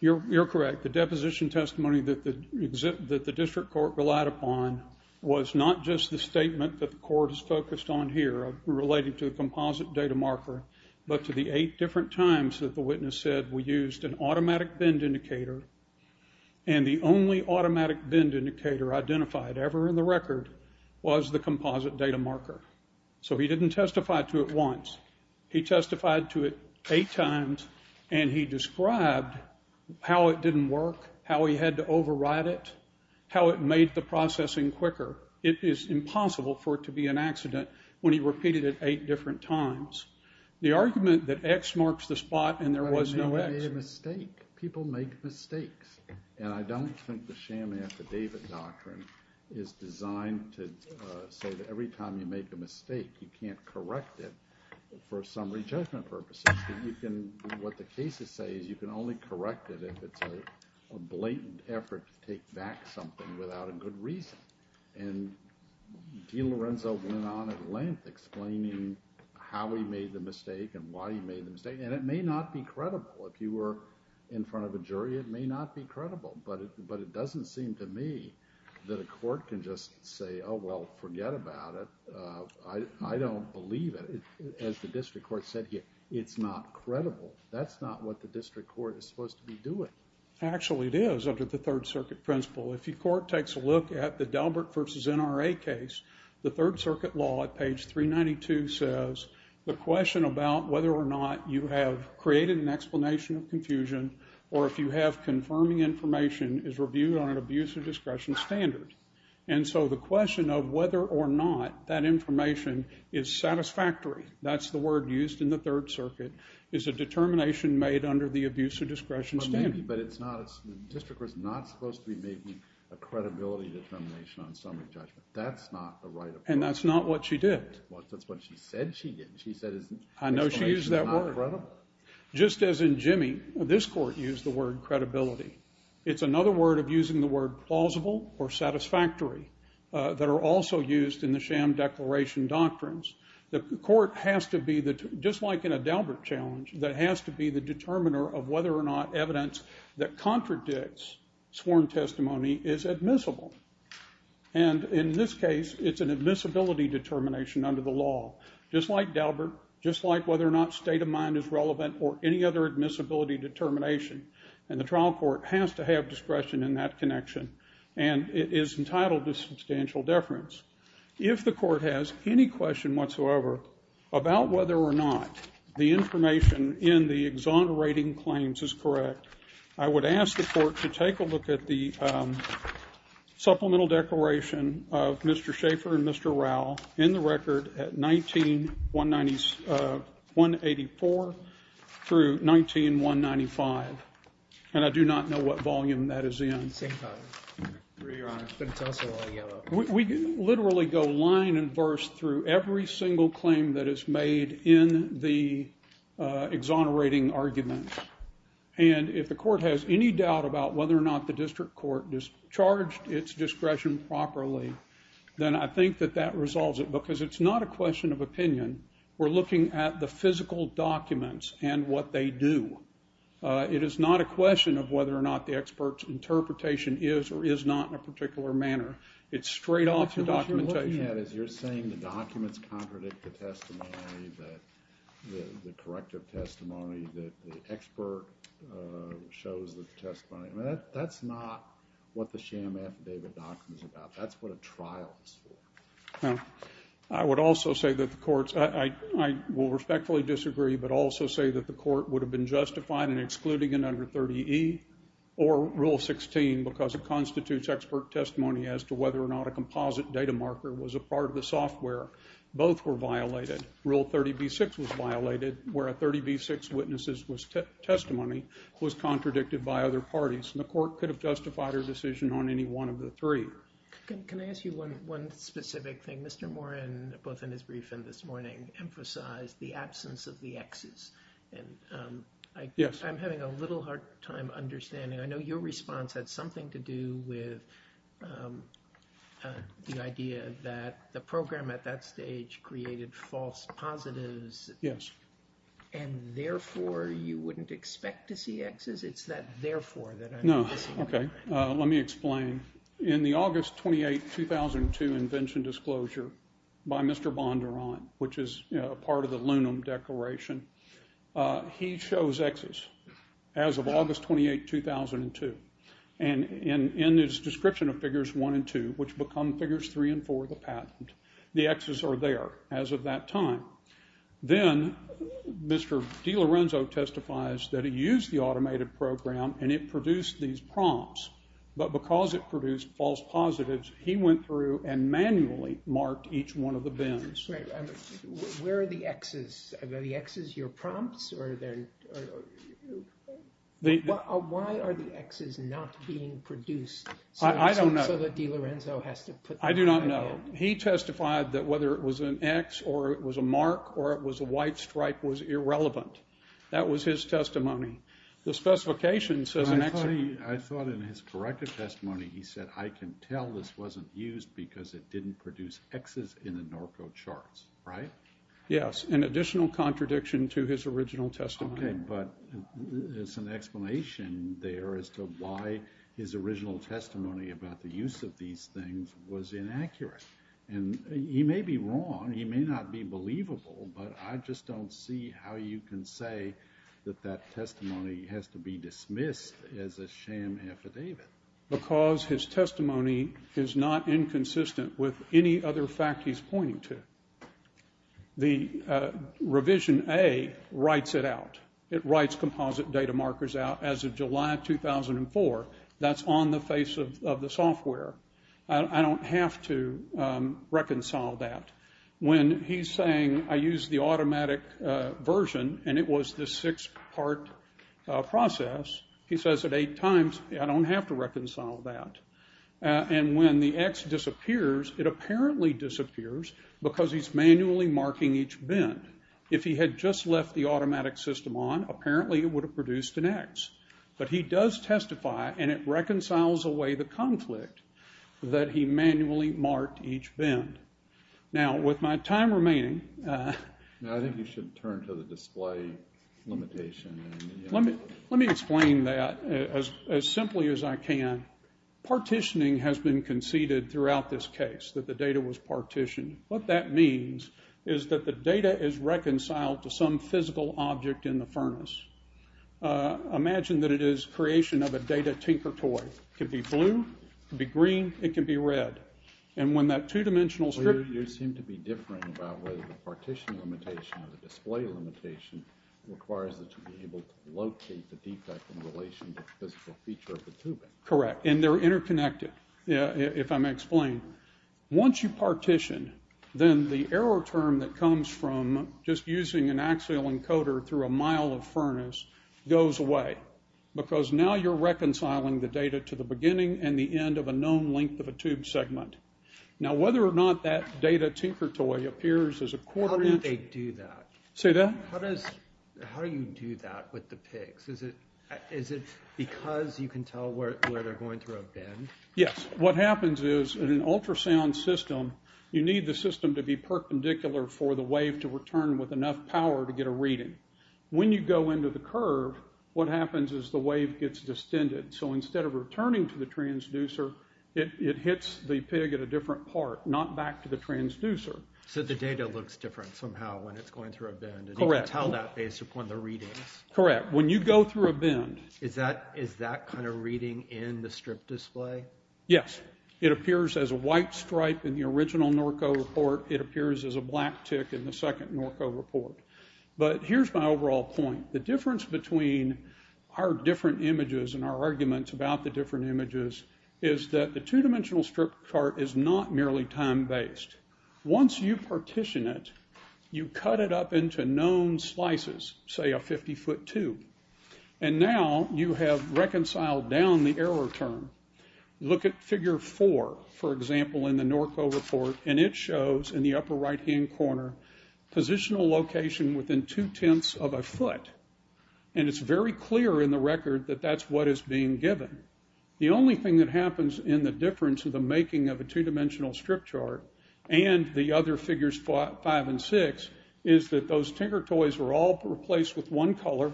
You're correct. The deposition testimony that the district court relied upon was not just the statement that the court is focused on here relating to a composite data marker, but to the eight different times that the witness said we used an automatic bend indicator, and the only automatic bend indicator identified ever in the record was the composite data marker. So he didn't testify to it once. He testified to it eight times, and he described how it didn't work, how he had to override it, how it made the processing quicker. It is impossible for it to be an accident when he repeated it eight different times. The argument that X marks the spot, and there was no X... People make mistakes, and I don't think the sham affidavit doctrine is designed to say that every time you make a mistake, you can't correct it for summary judgment purposes. What the cases say is you can only correct it if it's a blatant effort to take back something without a good reason. And DiLorenzo went on at length explaining how he made the mistake and why he made the mistake, and it may not be credible if you were in front of a jury. It may not be credible, but it doesn't seem to me that a court can just say, oh, well, forget about it. I don't believe it. As the district court said here, it's not credible. That's not what the district court is supposed to be doing. Actually, it is under the Third Circuit principle. If your court takes a look at the Dalbert versus NRA case, the Third Circuit law at page 392 says the question about whether or not you have created an explanation of confusion or if you have confirming information is reviewed on an abuse of discretion standard. And so the question of whether or not that information is satisfactory, that's the word used in the Third Circuit, is a determination made under the abuse of discretion standard. But maybe, but it's not, the district court's not supposed to be making a credibility determination on summary judgment. That's not the right approach. And that's not what she did. Well, that's what she said she did. She said his explanation is not correct. I know she used that word. Just as in Jimmy, this court used the word credibility. It's another word of using the word plausible or satisfactory that are also used in the sham declaration doctrines. The court has to be, just like in a Dalbert challenge, that has to be the determiner of whether or not evidence that contradicts sworn testimony is admissible. And in this case, it's an admissibility determination under the law, just like Dalbert, just like whether or not state of mind is relevant or any other admissibility determination. And the trial court has to have discretion in that connection. And it is entitled to substantial deference. If the court has any question whatsoever about whether or not the information in the exonerating claims is correct, I would ask the court to take a look at the supplemental declaration of Mr. Schaefer and Mr. Rowell in the record at 184 through 19195. And I do not know what volume that is in. We literally go line and verse through every single claim that is made in the exonerating argument. And if the court has any doubt about whether or not the district court charged its discretion properly, then I think that that resolves it. Because it's not a question of opinion. We're looking at the physical documents and what they do. It is not a question of whether or not the expert's interpretation is or is not in a particular manner. It's straight off the documentation. What you're looking at is you're saying the documents contradict the testimony, that the corrective testimony, that the expert shows the testimony. That's not what the sham affidavit document is about. That's what a trial is for. I would also say that the courts, I will respectfully disagree, but also say that the court would have been justified in excluding an under 30E or Rule 16 because it constitutes expert testimony as to whether or not a composite data marker was a part of the software. Both were violated. Rule 30B-6 was violated where a 30B-6 witness's testimony was contradicted by other parties. And the court could have justified a decision on any one of the three. Can I ask you one specific thing? Mr. Moran, both in his briefing this morning, emphasized the absence of the Xs. I'm having a little hard time understanding. I know your response had something to do with the idea that the program at that stage created false positives. Yes. It's that therefore that I'm missing. Okay. Let me explain. In the August 28, 2002, invention disclosure by Mr. Bondurant, which is a part of the Lunum Declaration, he shows Xs as of August 28, 2002. And in his description of figures one and two, which become figures three and four of the patent, the Xs are there as of that time. Then Mr. DiLorenzo testifies that he used the automated program and it produced these prompts. But because it produced false positives, he went through and manually marked each one of the bins. Where are the Xs? Are the Xs your prompts? Why are the Xs not being produced? I don't know. So that DiLorenzo has to put them in. I do not know. He testified that whether it was an X or it was a mark or it was a white stripe was irrelevant. That was his testimony. The specification says an X. I thought in his corrected testimony he said I can tell this wasn't used because it didn't produce Xs in the Norco charts, right? Yes, an additional contradiction to his original testimony. But there's an explanation there as to why his original testimony about the use of these things was inaccurate. And he may be wrong, he may not be believable, but I just don't see how you can say that that testimony has to be dismissed as a sham affidavit. Because his testimony is not inconsistent with any other fact he's pointing to. The revision A writes it out. It writes composite data markers out as of July 2004. That's on the face of the software. I don't have to reconcile that. When he's saying I used the automatic version and it was this six part process, he says it eight times. I don't have to reconcile that. And when the X disappears, it apparently disappears because he's manually marking each bend. If he had just left the automatic system on, apparently it would have produced an X. But he does testify and it reconciles away the conflict that he manually marked each bend. Now with my time remaining. Now I think you should turn to the display limitation. Let me explain that as simply as I can. Partitioning has been conceded throughout this case that the data was partitioned. What that means is that the data is reconciled to some physical object in the furnace. Imagine that it is creation of a data tinker toy. Could be blue, could be green, it could be red. And when that two dimensional script. You seem to be differing about whether the partition limitation or the display limitation requires that you be able to locate the defect in relation to the physical feature of the tubing. Correct, and they're interconnected. Yeah, if I may explain. Once you partition, then the error term that comes from just using an axial encoder through a mile of furnace goes away. Because now you're reconciling the data to the beginning and the end of a known length of a tube segment. Now, whether or not that data tinker toy appears as a quarter inch. How do they do that? Say that? How do you do that with the pigs? Is it because you can tell where they're going through a bend? Yes, what happens is in an ultrasound system, you need the system to be perpendicular for the wave to return with enough power to get a reading. When you go into the curve, what happens is the wave gets distended. So instead of returning to the transducer, it hits the pig at a different part, not back to the transducer. So the data looks different somehow when it's going through a bend. And you can tell that based upon the readings. Correct. When you go through a bend. Is that kind of reading in the strip display? Yes. It appears as a white stripe in the original Norco report. It appears as a black tick in the second Norco report. But here's my overall point. The difference between our different images and our arguments about the different images is that the two-dimensional strip chart is not merely time-based. Once you partition it, you cut it up into known slices, say a 50-foot tube. And now you have reconciled down the error term. Look at figure four, for example, in the Norco report, and it shows in the upper right-hand corner positional location within two-tenths of a foot. And it's very clear in the record that that's what is being given. The only thing that happens in the difference of the making of a two-dimensional strip chart and the other figures five and six is that those Tinkertoys are all replaced with one color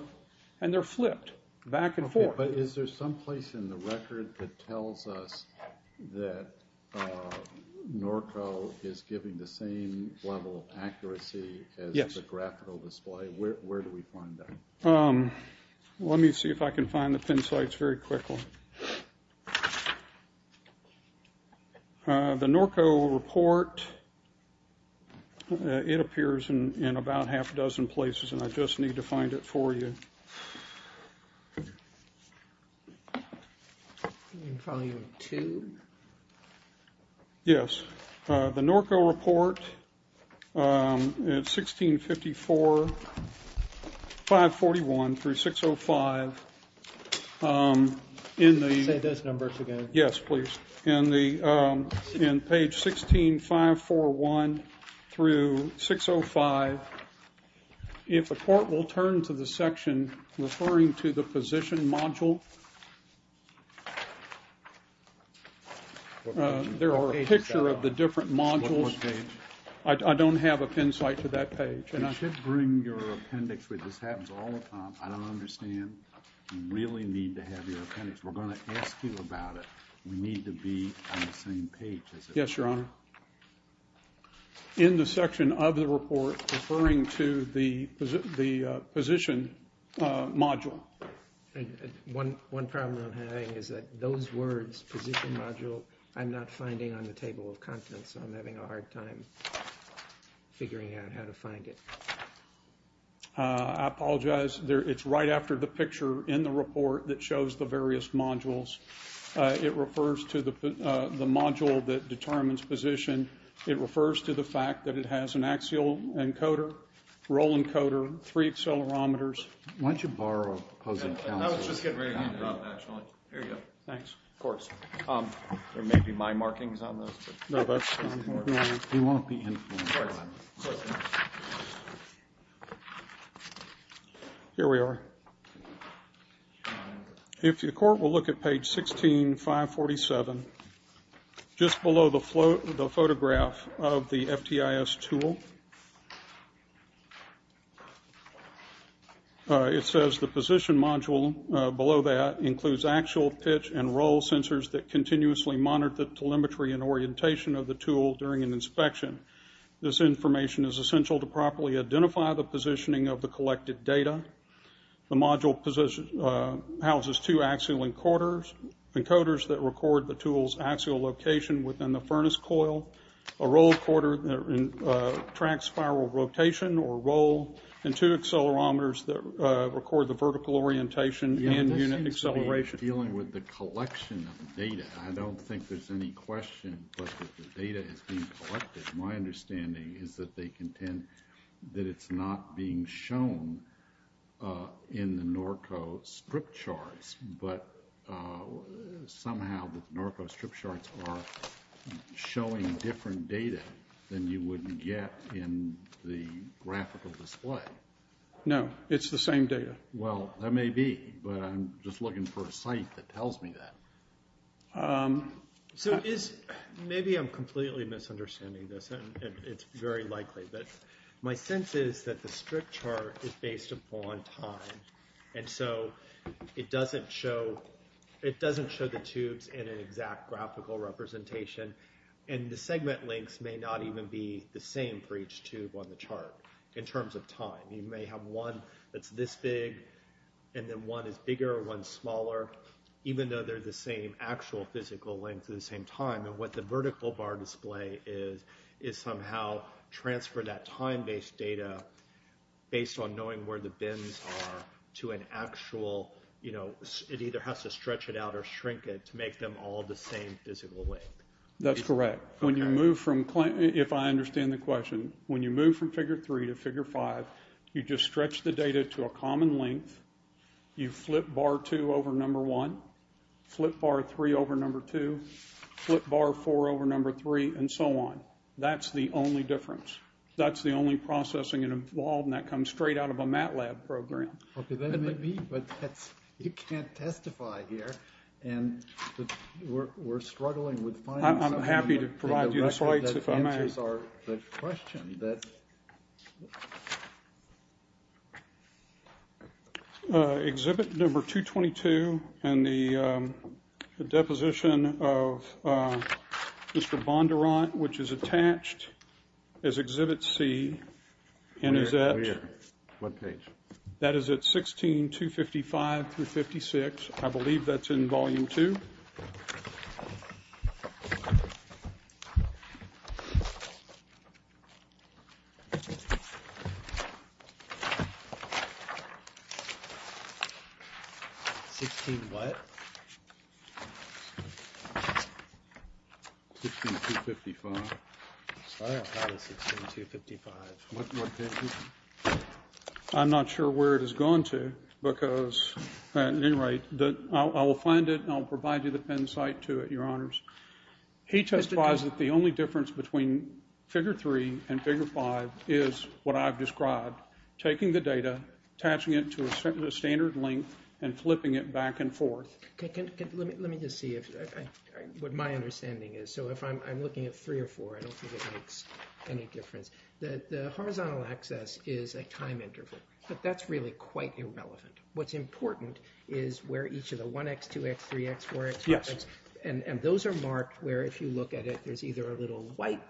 and they're flipped back and forth. But is there some place in the record that tells us that Norco is giving the same level of accuracy as the graphical display? Where do we find that? Let me see if I can find the pen slides very quickly. The Norco report, it appears in about half a dozen places, and I just need to find it for you. In volume two? Yes. The Norco report, it's 1654, 541 through 605, in the... Say those numbers again. Yes, please. In page 16, 541 through 605, if the court will turn to the section referring to the position module, there are a picture of the different modules. What page? I don't have a pen slide to that page. You should bring your appendix with you. This happens all the time. I don't understand. You really need to have your appendix. We're going to ask you about it. We need to be on the same page. Yes, Your Honor. In the section of the report referring to the position module. One problem I'm having is that those words, position module, I'm not finding on the table of contents, so I'm having a hard time figuring out how to find it. I apologize. It's right after the picture in the report that shows the various modules. It refers to the module that determines position. It refers to the fact that it has an axial encoder, roll encoder, three accelerometers. Why don't you borrow those accounts? I was just getting ready to drop that, Your Honor. Here you go. Thanks. Of course. There may be my markings on those. No, that's not important. You won't be influenced. Here we are. Your Honor. If your court will look at page 16, 547, just below the photograph of the FTIS tool. It says the position module below that includes actual pitch and roll sensors that continuously monitor the telemetry and orientation of the tool during an inspection. This information is essential to properly identify the positioning of the collected data. The module houses two axial encoders that record the tool's axial location within the furnace coil, a roll encoder that tracks spiral rotation or roll, and two accelerometers that record the vertical orientation and unit acceleration. Dealing with the collection of data, I don't think there's any question but that the data is being collected. My understanding is that they contend that it's not being shown in the Norco strip charts, but somehow the Norco strip charts are showing different data than you would get in the graphical display. No, it's the same data. Well, that may be, but I'm just looking for a site that tells me that. So is, maybe I'm completely misunderstanding this, and it's very likely, but my sense is that the strip chart is based upon time, and so it doesn't show the tubes in an exact graphical representation, and the segment lengths may not even be the same for each tube on the chart in terms of time. You may have one that's this big, and then one is bigger, one's smaller, even though they're the same actual physical length at the same time, and what the vertical bar display is is somehow transfer that time-based data based on knowing where the bins are to an actual, it either has to stretch it out or shrink it to make them all the same physical length. That's correct. When you move from, if I understand the question, when you move from figure three to figure five, you just stretch the data to a common length, you flip bar two over number one, flip bar three over number two, flip bar four over number three, and so on. That's the only difference. That's the only processing that comes straight out of a MATLAB program. Okay, that may be, but you can't testify here, and we're struggling with... I'm happy to provide you the slides if I may. Exhibit number 222 and the deposition of Mr. Bondurant, which is attached as exhibit C, and is at... What page? That is at 16.255 through 56. I believe that's in volume two. 16 what? 16.255. Sorry, I thought it was 16.255. What page is it? I'm not sure where it has gone to, because at any rate, I will find it, and I'll provide you the pen site to it, Your Honors. He testifies that the only difference between figure three and figure five is what I've described, taking the data, attaching it to a standard length, and flipping it back and forth. Let me just see what my understanding is. So if I'm looking at three or four, I don't think it makes any difference. The horizontal axis is a time interval, but that's really quite irrelevant. What's important is where each of the 1x, 2x, 3x, 4x, 5x, and those are marked where if you look at it, there's either a little white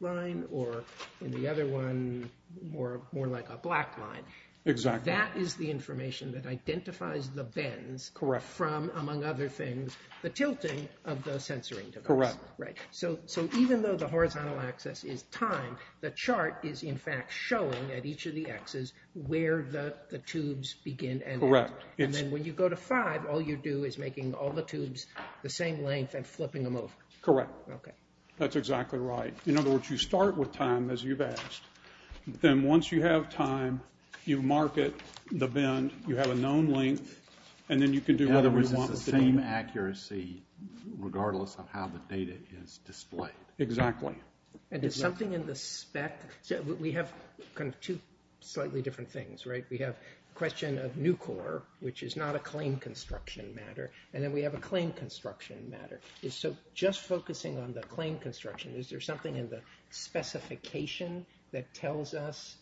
line or in the other one, more like a black line. Exactly. That is the information that identifies the bends from, among other things, the tilting of the censoring device. Correct. Right. So even though the horizontal axis is time, the chart is, in fact, showing at each of the x's where the tubes begin and end. Correct. And then when you go to five, all you do is making all the tubes the same length and flipping them over. Correct. Okay. That's exactly right. In other words, you start with time as you've asked. Then once you have time, you mark it, the bend, you have a known length, and then you can do whatever you want. It's the same accuracy, regardless of how the data is displayed. Exactly. And is something in the spec? We have kind of two slightly different things, right? We have a question of Nucor, which is not a claim construction matter, and then we have a claim construction matter. So just focusing on the claim construction, is there something in the specification that tells us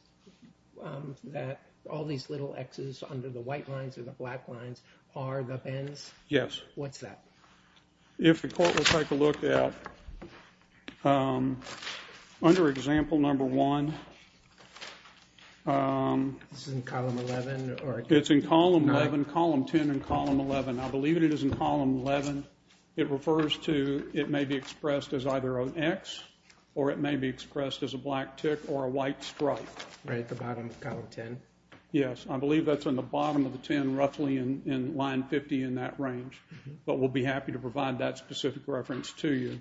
that all these little x's under the white lines or the black lines are the bends? Yes. What's that? If the court would take a look at, under example number one. This is in column 11? It's in column 11, column 10 and column 11. I believe it is in column 11. It refers to, it may be expressed as either an x, or it may be expressed as a black tick or a white stripe. Right at the bottom of column 10? Yes. I believe that's in the bottom of the 10, roughly in line 50 in that range. But we'll be happy to provide that specific reference to you.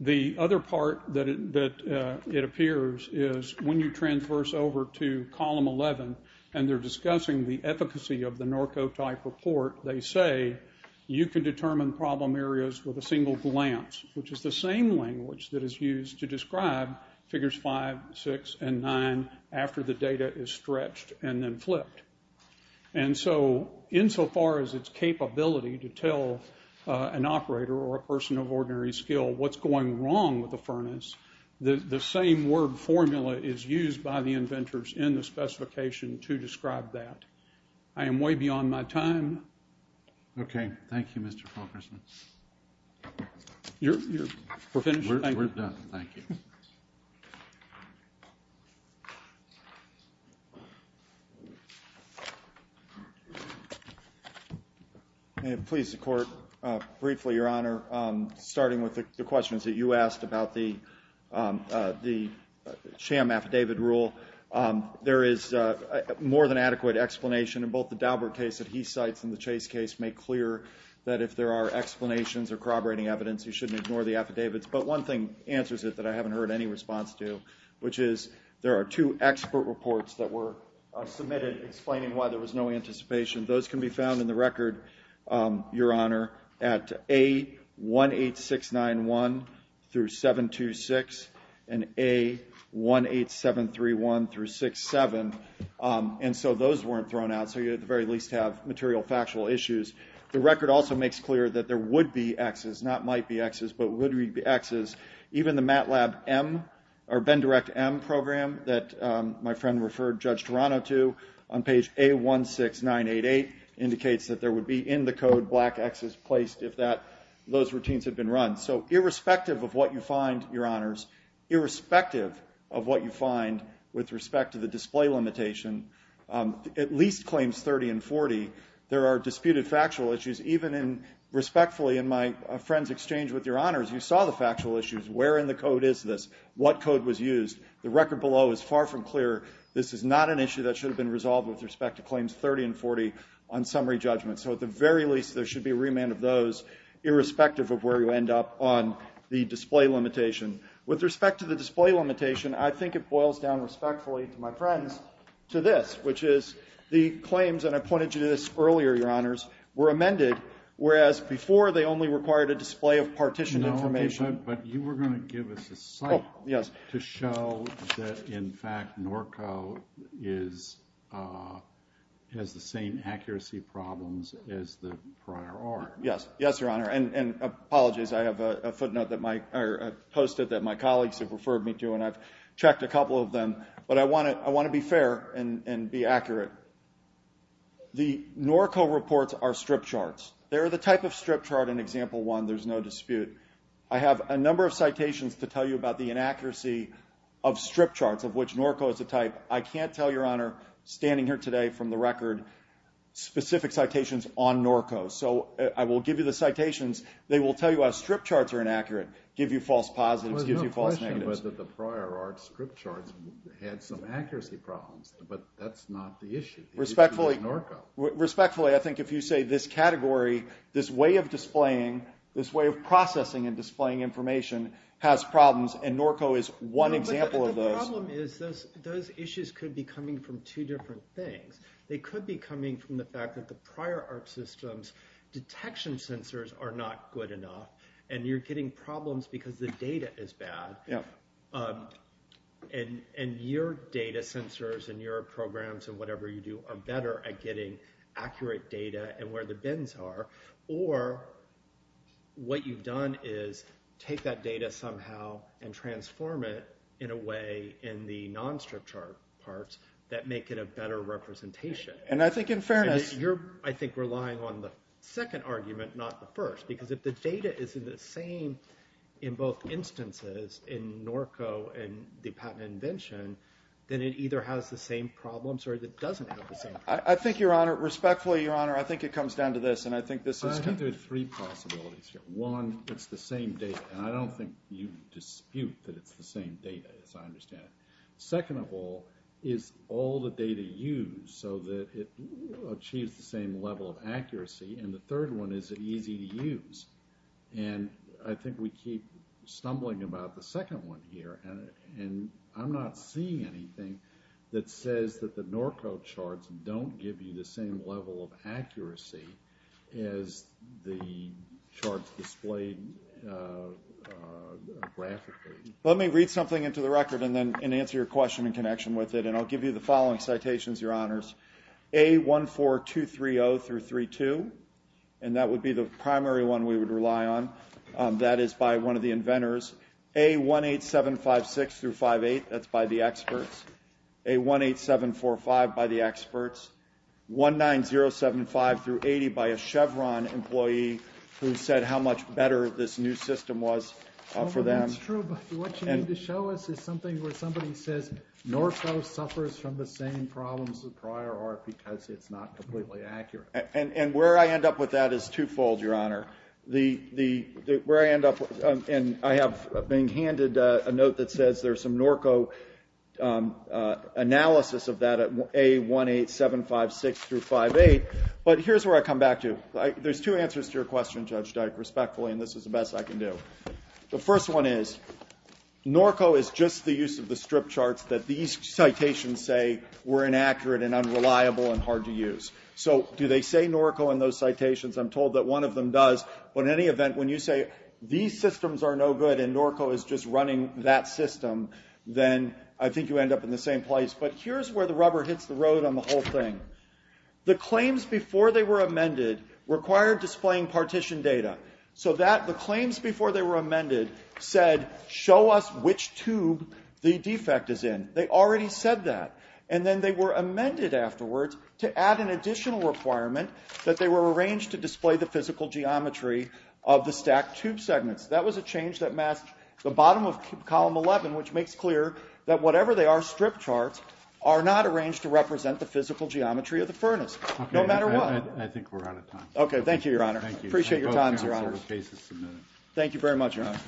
The other part that it appears is when you transverse over to column 11, and they're discussing the efficacy of the Norco type report, they say you can determine problem areas with a single glance, which is the same language that is used to describe figures five, six, and nine after the data is stretched and then flipped. And so insofar as its capability to tell an operator or a person of ordinary skill what's going wrong with the furnace, the same word formula is used by the inventors in the specification to describe that. I am way beyond my time. Okay. Thank you, Mr. Fulkerson. You're finished? We're done. Thank you. May it please the Court, briefly, Your Honor, starting with the questions that you asked about the sham affidavit rule. There is more than adequate explanation in both the Daubert case that he cites and the Chase case make clear that if there are explanations or corroborating evidence, you shouldn't ignore the affidavits. But one thing answers it that I haven't heard any response to, which is there are two expert reports that were submitted explaining why there was no anticipation. Those can be found in the record, Your Honor, at A18691 through 726 and A18731 through 67. And so those weren't thrown out, so you at the very least have material factual issues. The record also makes clear that there would be Xs, not might be Xs, but would be Xs. Even the MATLAB M, or Bend Direct M program that my friend referred Judge Toronto to on page A16988 indicates that there would be in the code black Xs placed if that, those routines had been run. So irrespective of what you find, Your Honors, irrespective of what you find with respect to the display limitation, at least claims 30 and 40, there are disputed factual issues, even in respectfully in my friend's exchange with Your Honors, you saw the factual issues. Where in the code is this? What code was used? The record below is far from clear. This is not an issue that should have been resolved with respect to claims 30 and 40 on summary judgment. So at the very least, there should be a remand of those irrespective of where you end up on the display limitation. With respect to the display limitation, I think it boils down respectfully to my friends to this, which is the claims, and I pointed you to this earlier, Your Honors, were amended. Whereas before, they only required a display of partition information. But you were going to give us a site to show that, in fact, NORCO has the same accuracy problems as the prior art. Yes. Yes, Your Honor. And apologies. I have a footnote that I posted that my colleagues have referred me to, and I've checked a couple of them. But I want to be fair and be accurate. The NORCO reports are strip charts. They're the type of strip chart in Example 1. There's no dispute. I have a number of citations to tell you about the inaccuracy of strip charts, of which NORCO is the type. I can't tell Your Honor, standing here today, from the record, specific citations on NORCO. So I will give you the citations. They will tell you how strip charts are inaccurate, give you false positives, give you false negatives. There's no question whether the prior art strip charts had some accuracy problems, but that's not the issue. Respectfully, respectfully, I think if you say this category, this way of displaying, this way of processing and displaying information has problems, and NORCO is one example of those. The problem is those issues could be coming from two different things. They could be coming from the fact that the prior art system's detection sensors are not good enough, and you're getting problems because the data is bad. And your data sensors and your programs and whatever you do are better at getting accurate data and where the bins are, or what you've done is take that data somehow and transform it in a way in the non-strip chart parts that make it a better representation. And I think in fairness, you're, I think, relying on the second argument, not the first, because if the data is in the same in both instances in NORCO and the patent invention, then it either has the same problems or it doesn't have the same problems. I think, Your Honor, respectfully, Your Honor, I think it comes down to this, and I think this is... I think there are three possibilities here. One, it's the same data, and I don't think you dispute that it's the same data, as I understand it. Second of all, is all the data used so that it achieves the same level of accuracy? And the third one, is it easy to use? And I think we keep stumbling about the second one here, and I'm not seeing anything that says that the NORCO charts don't give you the same level of accuracy as the charts displayed graphically. Let me read something into the record and then answer your question in connection with it, and I'll give you the following citations, Your Honors. A14230-32, and that would be the primary one we would rely on. That is by one of the inventors. A18756-58, that's by the experts. A18745, by the experts. 19075-80, by a Chevron employee who said how much better this new system was for them. That's true, but what you need to show us is something where somebody says NORCO suffers from the same problems as the prior art because it's not completely accurate. And where I end up with that is twofold, Your Honor. Where I end up, and I have been handed a note that says there's some NORCO analysis of that at A18756-58, but here's where I come back to. There's two answers to your question, Judge Dyke, respectfully, and this is the best I can do. The first one is, NORCO is just the use of the strip charts that these citations say were inaccurate and unreliable and hard to use. So do they say NORCO in those citations? I'm told that one of them does. But in any event, when you say these systems are no good and NORCO is just running that system, then I think you end up in the same place. But here's where the rubber hits the road on the whole thing. The claims before they were amended required displaying partition data. So that the claims before they were amended said, show us which tube the defect is in. They already said that. And then they were amended afterwards to add an additional requirement that they were arranged to display the physical geometry of the stacked tube segments. That was a change that masked the bottom of column 11, which makes clear that whatever they are, strip charts are not arranged to represent the physical geometry of the furnace, no matter what. I think we're out of time. OK, thank you, Your Honor. Appreciate your time, Your Honor. Thank you very much, Your Honor.